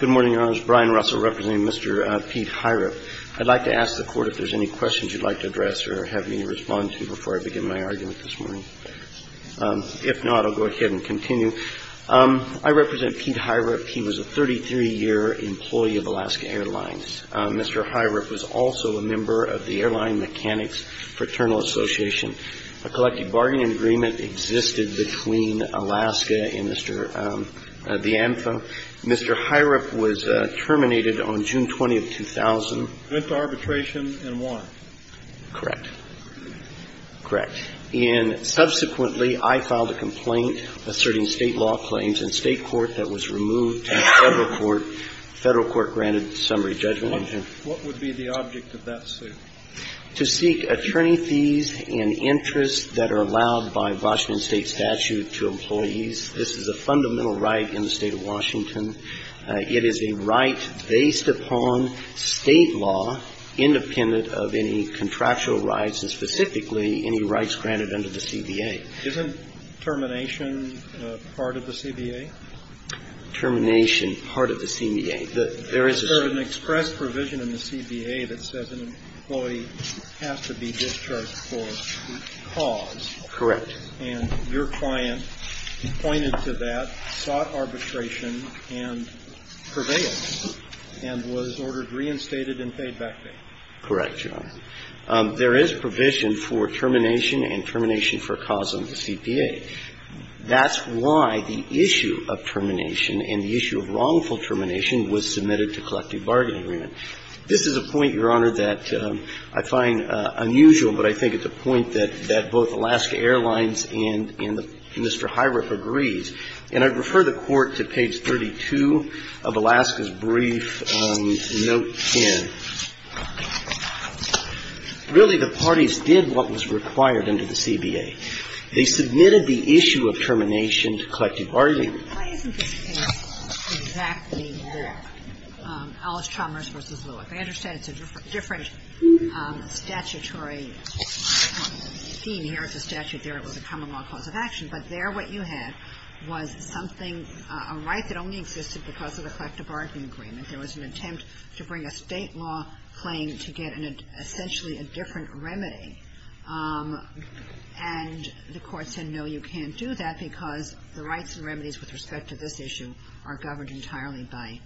Good morning, Your Honors. Brian Russell, representing Mr. Pete Hoirup. I'd like to ask the Court if there's any questions you'd like to address or have me respond to before I begin my argument this morning. If not, I'll go ahead and continue. I represent Pete Hoirup. He was a 33-year employee of Alaska Airlines. Mr. Hoirup was also a member of the Airline Mechanics Fraternal Association. A collective bargain agreement existed between Alaska and Mr. De Anza. Mr. Hoirup was terminated on June 20, 2000. Went to arbitration and won. Correct. Correct. And subsequently, I filed a complaint asserting state law claims in state court that was removed in federal court, federal court-granted summary judgment. What would be the object of that suit? To seek attorney fees and interest that are allowed by Washington State statute to employees. This is a fundamental right in the State of Washington. It is a right based upon state law independent of any contractual rights and specifically any rights granted under the CBA. Isn't termination part of the CBA? Termination, part of the CBA. There is a – There's an express provision in the CBA that says an employee has to be discharged for a cause. Correct. And your client pointed to that, sought arbitration, and prevailed, and was ordered reinstated and paid back bail. Correct, Your Honor. There is provision for termination and termination for a cause under the CBA. That's why the issue of termination and the issue of wrongful termination was submitted to collective bargain agreement. This is a point, Your Honor, that I find unusual, but I think it's a point that both Alaska Airlines and Mr. Hiriff agrees. And I refer the Court to page 32 of Alaska's brief note 10. Really, the parties did what was required under the CBA. They submitted the issue of termination to collective bargain agreement. Why isn't this case exactly that, Alice Chalmers v. Lewis? I understand it's a different statutory theme here. It's a statute there. It was a common law cause of action. But there what you had was something – a right that only existed because of the collective bargain agreement. There was an attempt to bring a State law claim to get an – essentially a different remedy. And the Court said, no, you can't do that because the rights and remedies with respect to this issue are governed entirely by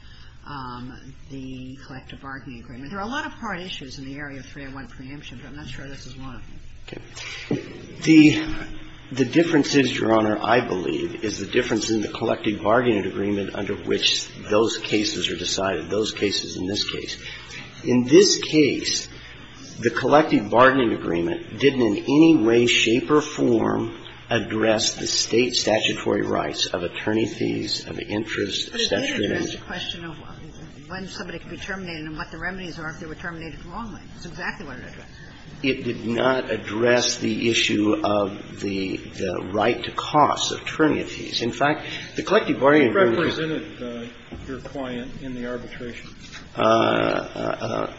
the collective bargaining agreement. There are a lot of part issues in the area of 301 preemption, but I'm not sure this is one of them. Okay. The difference is, Your Honor, I believe, is the difference in the collective bargaining agreement under which those cases are decided, those cases in this case. In this case, the collective bargaining agreement didn't in any way, shape or form address the State statutory rights of attorney fees, of interest, of statutory It didn't address the question of when somebody could be terminated and what the remedies are if they were terminated the wrong way. That's exactly what it addressed. It did not address the issue of the right to costs of attorney fees. In fact, the collective bargaining agreement was – Who represented your client in the arbitration? An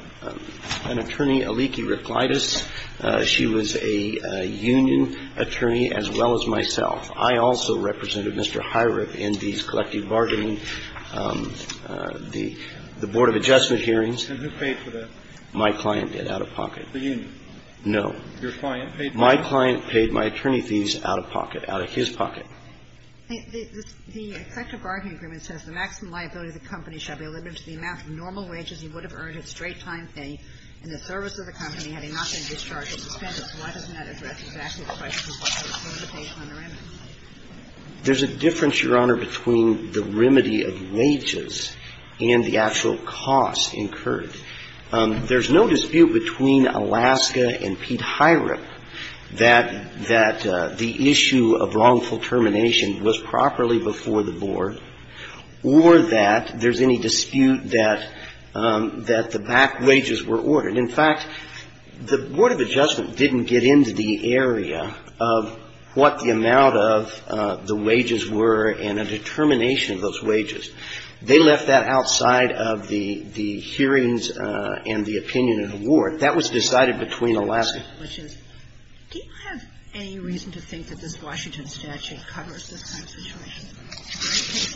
attorney, Aliki Reclides. She was a union attorney as well as myself. I also represented Mr. Hyrup in these collective bargaining, the Board of Adjustment hearings. And who paid for that? My client did, out-of-pocket. The union? No. Your client paid for that? My client paid my attorney fees out-of-pocket, out of his pocket. The collective bargaining agreement says, The maximum liability of the company shall be limited to the amount of normal wages he would have earned at straight-time pay in the service of the company had he not So why doesn't that address exactly the question of what the limitations are on the remedies? There's a difference, Your Honor, between the remedy of wages and the actual costs incurred. There's no dispute between Alaska and Pete Hyrup that the issue of wrongful termination was properly before the Board or that there's any dispute that the back wages were ordered. In fact, the Board of Adjustment didn't get into the area of what the amount of the wages were and a determination of those wages. They left that outside of the hearings and the opinion and award. That was decided between Alaska. Do you have any reason to think that this Washington statute covers this kind of situation?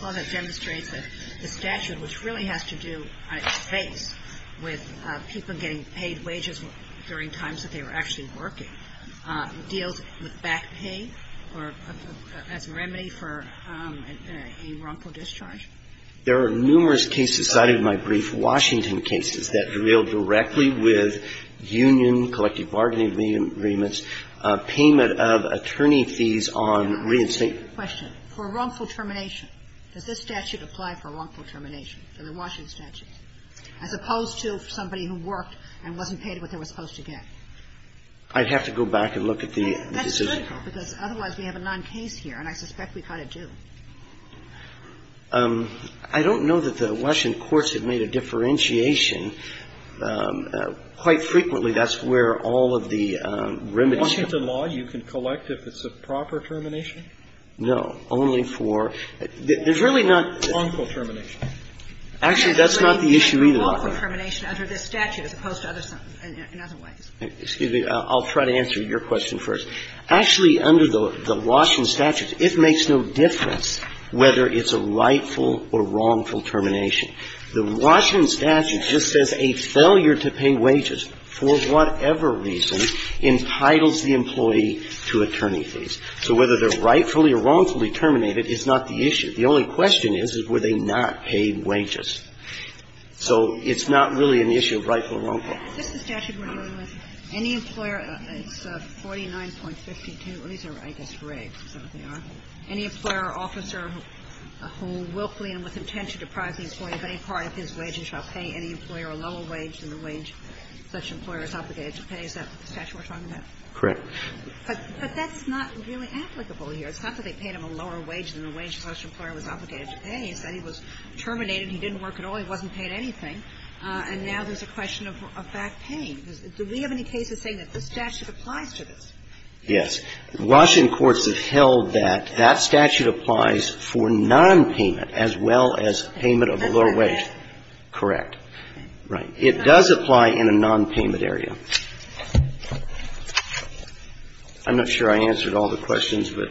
Well, that demonstrates that the statute, which really has to do, I suppose, with people getting paid wages during times that they were actually working, deals with that. But I don't think it's a remedy for a back pay or as a remedy for a wrongful discharge. There are numerous cases cited in my brief, Washington cases, that deal directly with union, collective bargaining agreements, payment of attorney fees on reinstate Question. For wrongful termination, does this statute apply for wrongful termination for the Washington statute, as opposed to somebody who worked and wasn't paid what they were supposed to get? I'd have to go back and look at the decision. That's critical, because otherwise we have a non-case here, and I suspect we kind of do. I don't know that the Washington courts have made a differentiation. Quite frequently, that's where all of the remedies come from. Once it's a law, you can collect if it's a proper termination? No. Only for – there's really not – Wrongful termination. Actually, that's not the issue either. Wrongful termination under this statute, as opposed to other – in other ways. Excuse me. I'll try to answer your question first. Actually, under the Washington statute, it makes no difference whether it's a rightful or wrongful termination. The Washington statute just says a failure to pay wages for whatever reason entitles the employee to attorney fees. So whether they're rightfully or wrongfully terminated is not the issue. The only question is, were they not paid wages? So it's not really an issue of rightful or wrongful. Is this the statute we're dealing with? Any employer – it's 49.52. These are, I guess, rigged. Is that what they are? Any employer or officer who willfully and with intent to deprive the employee of any part of his wage and shall pay any employer a lower wage than the wage such an employer is obligated to pay, is that the statute we're talking about? Correct. But that's not really applicable here. It's not that they paid him a lower wage than the wage such an employer was obligated to pay. He said he was terminated. He didn't work at all. He wasn't paid anything. And now there's a question of back paying. Do we have any cases saying that this statute applies to this? Yes. Washington courts have held that that statute applies for nonpayment as well as payment of a lower wage. Correct. Right. It does apply in a nonpayment area. I'm not sure I answered all the questions, but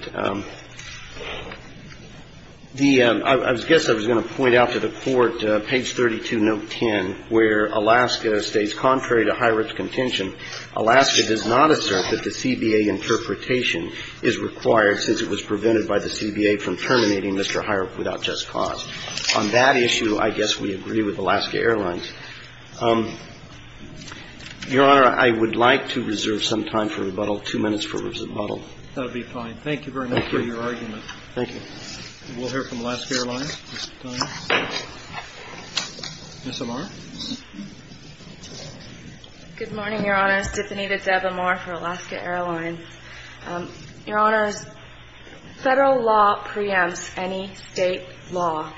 the ‑‑ I guess I was going to point out to the Court, page 32, note 10, where Alaska states, contrary to Hirop's contention, Alaska does not assert that the CBA interpretation is required since it was prevented by the CBA from terminating Mr. Hirop without just cause. On that issue, I guess we agree with Alaska Airlines. Your Honor, I would like to reserve some time for rebuttal, two minutes for rebuttal. That would be fine. Thank you very much for your argument. Thank you. We'll hear from Alaska Airlines this time. Ms. Amar. Good morning, Your Honor. Stephanie DeDeb Amar for Alaska Airlines. Your Honor, federal law preempts any state law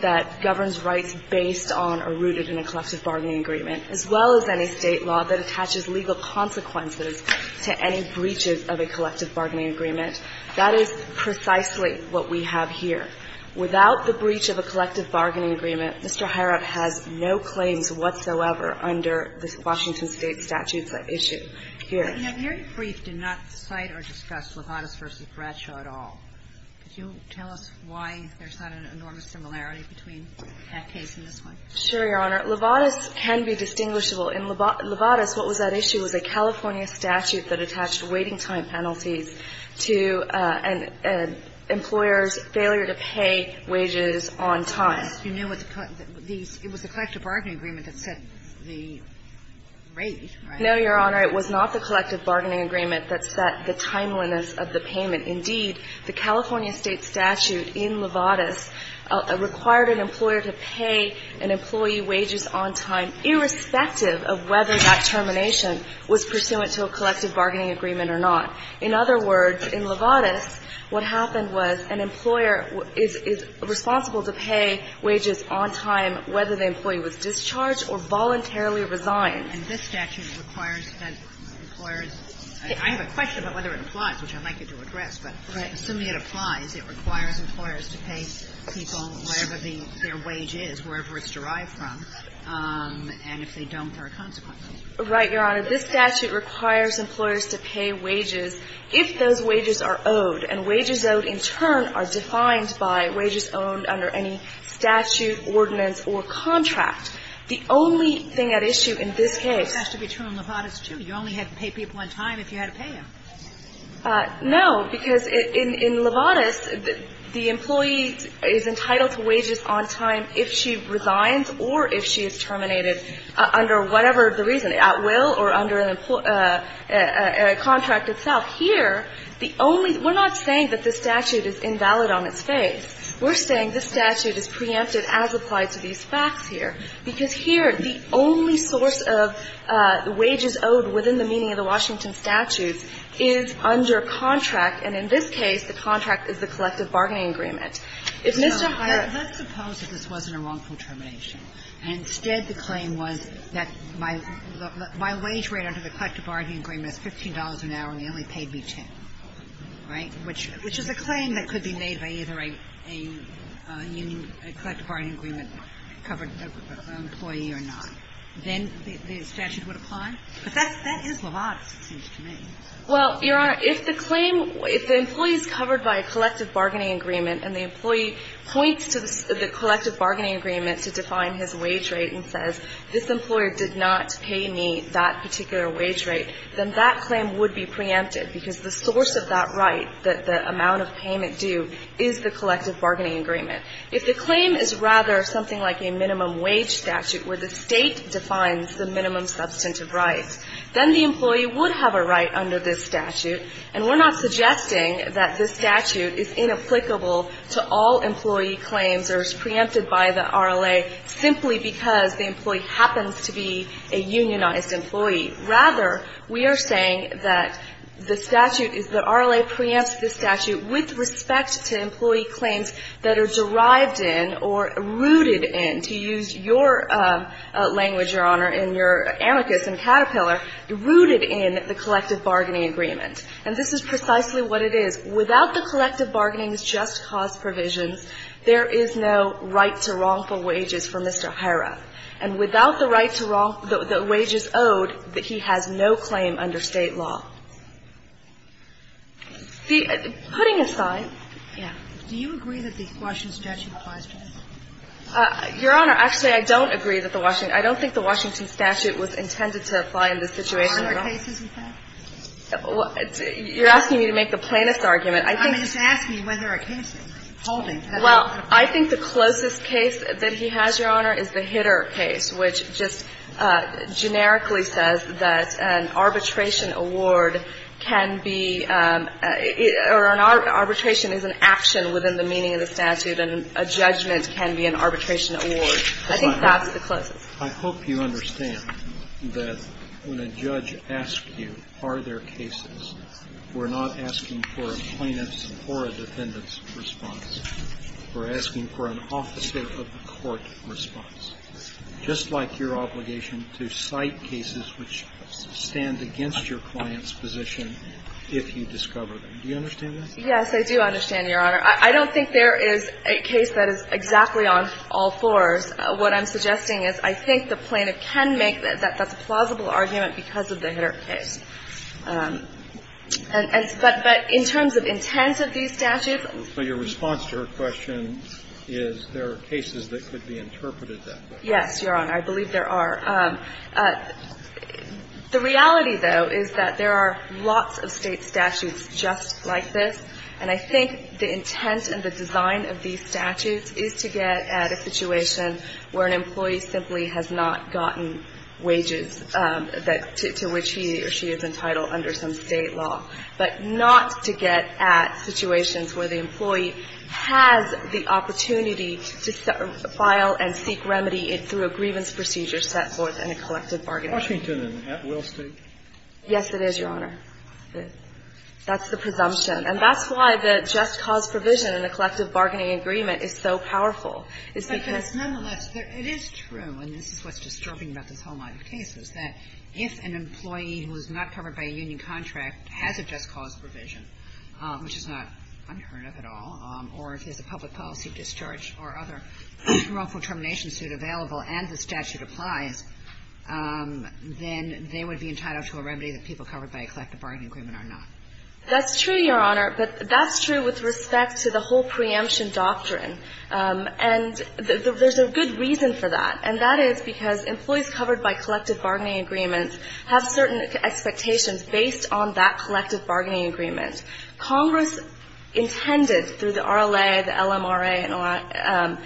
that governs rights based on a rooted in a collective bargaining agreement, as well as any state law that attaches legal consequences to any breaches of a collective bargaining agreement. That is precisely what we have here. Without the breach of a collective bargaining agreement, Mr. Hirop has no claims whatsoever under the Washington State statutes at issue here. Your brief did not cite or discuss Lovatis v. Bradshaw at all. Could you tell us why there's not an enormous similarity between that case and this one? Sure, Your Honor. Lovatis can be distinguishable. In Lovatis, what was at issue was a California statute that attached waiting time penalties to an employer's failure to pay wages on time. You knew it was a collective bargaining agreement that set the rate, right? No, Your Honor. It was not the collective bargaining agreement that set the timeliness of the payment. Indeed, the California State statute in Lovatis required an employer to pay an employee wages on time, irrespective of whether that termination was pursuant to a collective bargaining agreement or not. In other words, in Lovatis, what happened was an employer is responsible to pay wages on time whether the employee was discharged or voluntarily resigned. And this statute requires that employers – I have a question about whether it applies, which I'd like you to address, but assuming it applies, it requires employers to pay people whatever their wage is, wherever it's derived from, and if they don't, there are consequences. Right, Your Honor. This statute requires employers to pay wages if those wages are owed, and wages owed in turn are defined by wages owned under any statute, ordinance, or contract. The only thing at issue in this case – This has to be true in Lovatis, too. You only had to pay people on time if you had to pay them. No, because in Lovatis, the employee is entitled to wages on time if she resigns or if she is terminated under whatever the reason, at will or under a contract itself. Here, the only – we're not saying that this statute is invalid on its face. We're saying this statute is preempted as applied to these facts here, because here, the only source of wages owed within the meaning of the Washington statutes is under contract, and in this case, the contract is the collective bargaining agreement. If Mr. Hirons – Let's suppose that this wasn't a wrongful termination. Instead, the claim was that my wage rate under the collective bargaining agreement is $15 an hour and they only paid me $10, right, which is a claim that could be made by either a union – a collective bargaining agreement covered employee or not. Then the statute would apply? But that's – that is Lovatis, it seems to me. Well, Your Honor, if the claim – if the employee is covered by a collective bargaining agreement and the employee points to the collective bargaining agreement to define his wage rate and says, this employer did not pay me that particular wage rate, then that claim would be preempted, because the source of that right, the amount of payment due, is the collective bargaining agreement. If the claim is rather something like a minimum wage statute where the State defines the minimum substantive rights, then the employee would have a right under this statute, and we're not suggesting that this statute is inapplicable to all employee claims or is preempted by the RLA simply because the employee happens to be a unionized employee. Rather, we are saying that the statute is – the RLA preempts the statute with respect to employee claims that are derived in or rooted in – to use your language, Your Honor, in your amicus in Caterpillar – rooted in the collective bargaining agreement. And this is precisely what it is. Without the collective bargaining's just cause provisions, there is no right to wrongful that he has no claim under State law. See, putting aside – Yeah. Do you agree that the Washington statute applies to him? Your Honor, actually, I don't agree that the Washington – I don't think the Washington statute was intended to apply in this situation at all. Are there cases with that? You're asking me to make the plaintiff's argument. I think – I mean, just ask me whether a case is holding. Well, I think the closest case that he has, Your Honor, is the Hitter case, which just generically says that an arbitration award can be – or an arbitration is an action within the meaning of the statute, and a judgment can be an arbitration award. I think that's the closest. I hope you understand that when a judge asks you, are there cases, we're not asking for a plaintiff's or a defendant's response. We're asking for an officer of the court response, just like your obligation to cite cases which stand against your client's position if you discover them. Do you understand that? Yes, I do understand, Your Honor. I don't think there is a case that is exactly on all fours. What I'm suggesting is I think the plaintiff can make that that's a plausible argument because of the Hitter case. But in terms of intent of these statutes – So your response to her question is there are cases that could be interpreted that way. Yes, Your Honor. I believe there are. The reality, though, is that there are lots of State statutes just like this, and I think the intent and the design of these statutes is to get at a situation where an employee simply has not gotten wages to which he or she is entitled under some State law, but not to get at situations where the employee has the opportunity to file and seek remedy through a grievance procedure set forth in a collective bargaining agreement. Washington and at Will State? Yes, it is, Your Honor. That's the presumption. And that's why the just cause provision in a collective bargaining agreement is so powerful, is because – But nonetheless, it is true, and this is what's disturbing about this whole line of cases, that if an employee who is not covered by a union contract has a just cause provision, which is not unheard of at all, or if there's a public policy discharge or other wrongful termination suit available and the statute applies, then they would be entitled to a remedy that people covered by a collective bargaining agreement are not. That's true, Your Honor, but that's true with respect to the whole preemption doctrine. And there's a good reason for that, and that is because employees covered by collective bargaining agreements have certain expectations based on that collective bargaining agreement. Congress intended through the RLA, the LMRA,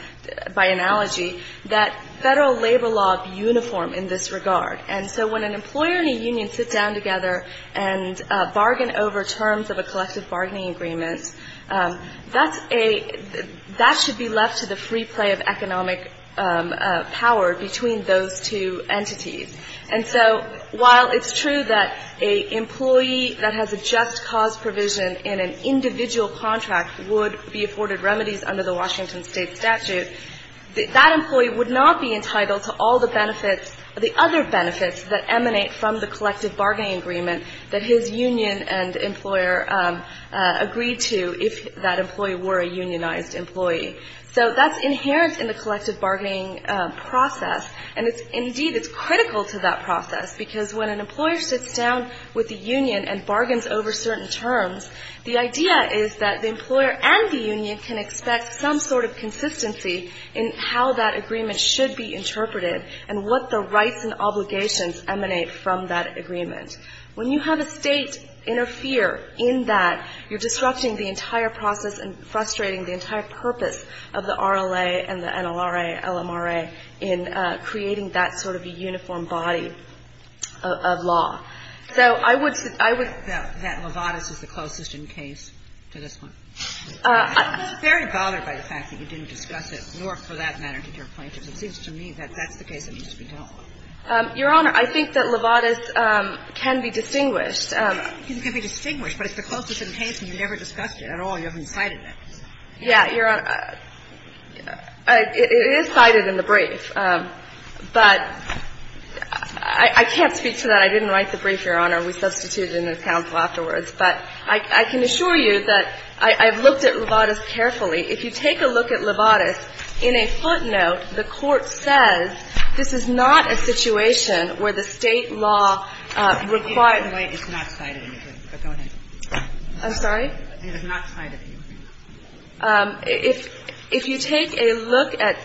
by analogy, that Federal labor law be uniform in this regard. And so when an employer and a union sit down together and bargain over terms of a collective bargaining agreement, that's a – that should be left to the free play of And so while it's true that an employee that has a just cause provision in an individual contract would be afforded remedies under the Washington State statute, that employee would not be entitled to all the benefits – the other benefits that emanate from the collective bargaining agreement that his union and employer agreed to if that employee were a unionized employee. So that's inherent in the collective bargaining process, and it's – indeed, it's critical to that process, because when an employer sits down with a union and bargains over certain terms, the idea is that the employer and the union can expect some sort of consistency in how that agreement should be interpreted and what the rights and obligations emanate from that agreement. When you have a State interfere in that, you're disrupting the entire process and So I would say that Lovatis is the closest in case to this one. I'm very bothered by the fact that you didn't discuss it, nor, for that matter, did your plaintiffs. It seems to me that that's the case that needs to be dealt with. Your Honor, I think that Lovatis can be distinguished. It can be distinguished, but it's the closest in case, and you never discussed it at all. You haven't cited it. Yeah, Your Honor. It is cited in the brief. But I can't speak to that. I didn't write the brief, Your Honor. We substituted it in this counsel afterwards. But I can assure you that I've looked at Lovatis carefully. If you take a look at Lovatis, in a footnote, the Court says this is not a situation where the State law requires – It's not cited in the brief, but go ahead. I'm sorry? It's not cited in the brief. If you take a look at,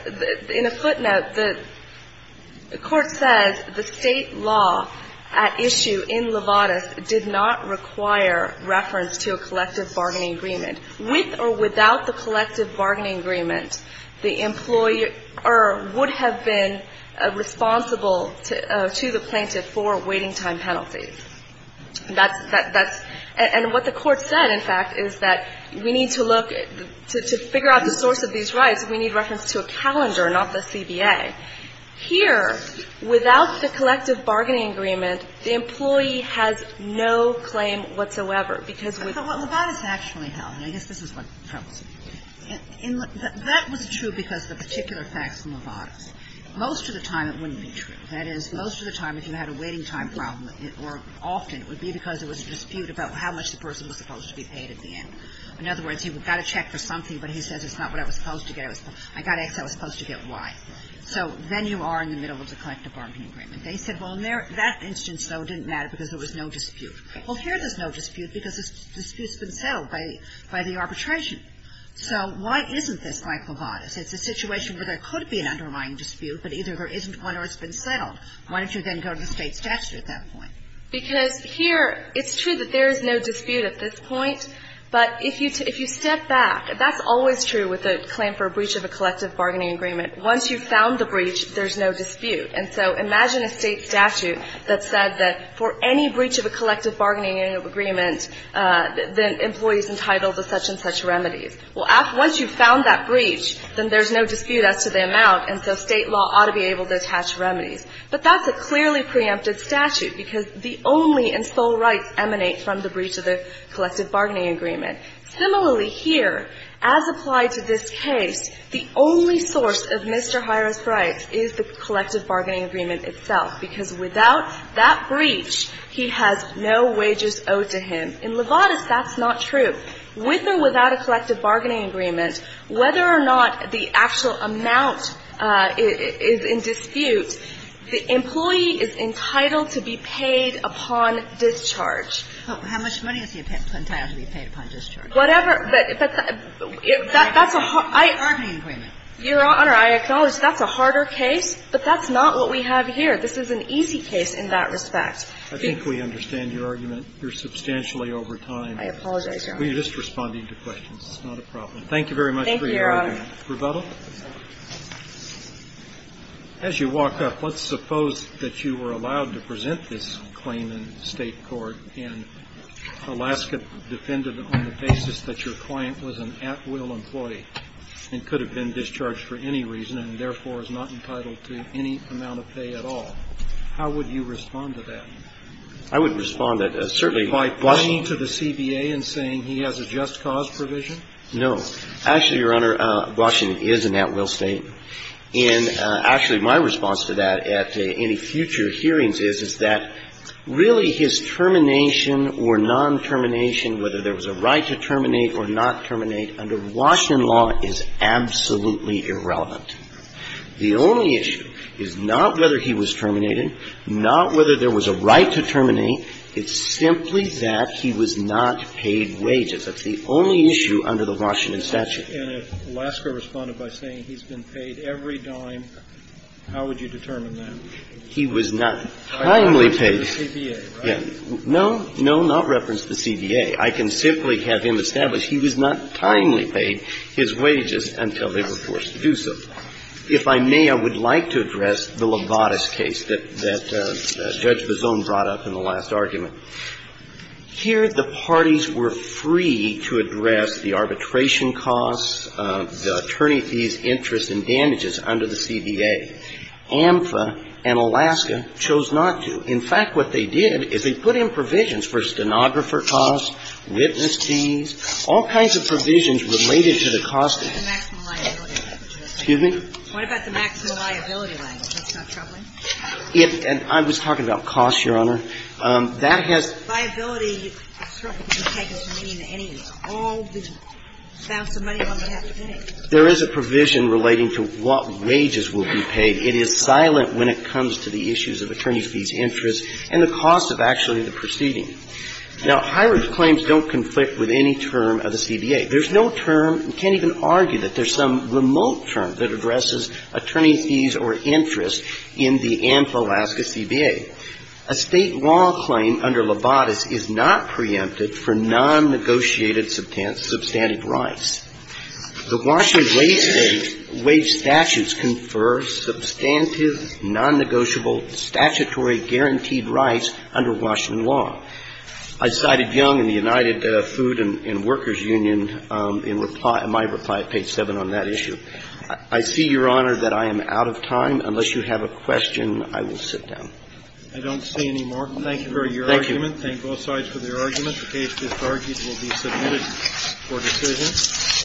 in a footnote, the Court says the State law at issue in Lovatis did not require reference to a collective bargaining agreement. With or without the collective bargaining agreement, the employer would have been responsible to the plaintiff for waiting time penalties. That's – and what the Court said, in fact, is that we need to look – to figure out the source of these rights, we need reference to a calendar, not the CBA. Here, without the collective bargaining agreement, the employee has no claim whatsoever because we – But Lovatis actually held – and I guess this is what troubles me. That was true because of the particular facts in Lovatis. Most of the time it wouldn't be true. That is, most of the time, if you had a waiting time problem, or often, it would be because there was a dispute about how much the person was supposed to be paid at the end. In other words, you've got to check for something, but he says it's not what I was supposed to get. I got X, I was supposed to get Y. So then you are in the middle of the collective bargaining agreement. They said, well, in that instance, though, it didn't matter because there was no dispute. Well, here there's no dispute because the dispute's been settled by the arbitration. So why isn't this by Lovatis? It's a situation where there could be an underlying dispute, but either there isn't one or it's been settled. Why don't you then go to the State statute at that point? Because here it's true that there is no dispute at this point, but if you step back – that's always true with a claim for a breach of a collective bargaining agreement. Once you've found the breach, there's no dispute. And so imagine a State statute that said that for any breach of a collective bargaining agreement, the employee is entitled to such and such remedies. Well, once you've found that breach, then there's no dispute as to the amount, and so State law ought to be able to attach remedies. But that's a clearly preempted statute because the only and sole rights emanate from the breach of the collective bargaining agreement. Similarly, here, as applied to this case, the only source of Mr. Hira's rights is the collective bargaining agreement itself, because without that breach, he has no wages owed to him. In Lovatis, that's not true. With or without a collective bargaining agreement, whether or not the actual amount is in dispute, the employee is entitled to be paid upon discharge. But how much money is he entitled to be paid upon discharge? Whatever. But that's a hard – I – Bargaining agreement. Your Honor, I acknowledge that's a harder case, but that's not what we have here. This is an easy case in that respect. I think we understand your argument. You're substantially over time. I apologize, Your Honor. It's not a problem. Thank you very much for your argument. Thank you, Your Honor. Rebuttal? As you walk up, let's suppose that you were allowed to present this claim in State court, and Alaska defended on the basis that your client was an at-will employee and could have been discharged for any reason and, therefore, is not entitled to any amount of pay at all. How would you respond to that? I would respond to that, certainly by – By pointing to the CBA and saying he has a just cause provision? No. Actually, Your Honor, Washington is an at-will State. And actually, my response to that at any future hearings is, is that really his termination or non-termination, whether there was a right to terminate or not terminate, under Washington law is absolutely irrelevant. The only issue is not whether he was terminated, not whether there was a right to terminate. It's simply that he was not paid wages. That's the only issue under the Washington statute. And if Alaska responded by saying he's been paid every dime, how would you determine that? He was not timely paid. By referring to the CBA, right? No. No, not reference to the CBA. I can simply have him establish he was not timely paid his wages until they were forced to do so. If I may, I would like to address the Lobotus case that Judge Bozon brought up in the last argument. Here, the parties were free to address the arbitration costs, the attorney fees, interest, and damages under the CBA. AMFA and Alaska chose not to. In fact, what they did is they put in provisions for stenographer costs, witness fees, all kinds of provisions related to the cost of the case. Excuse me? What about the maximum liability language? That's not troubling. I was talking about costs, Your Honor. That has to do with the fact that there is a provision relating to what wages will be paid. There is a provision relating to what wages will be paid. It is silent when it comes to the issues of attorney fees, interest, and the cost of actually the proceeding. Now, Highridge's claims don't conflict with any term of the CBA. There's no term. You can't even argue that there's some remote term that addresses attorney fees or interest in the AMFA-Alaska CBA. A State law claim under Libatus is not preempted for non-negotiated substantive rights. The Washington wage statutes confer substantive, non-negotiable, statutory guaranteed rights under Washington law. I cited Young in the United Food and Workers Union in my reply at page 7 on that issue. I see, Your Honor, that I am out of time. Unless you have a question, I will sit down. I don't see any more. Thank you for your argument. Thank you. Thank both sides for their argument. The case is argued and will be submitted for decision.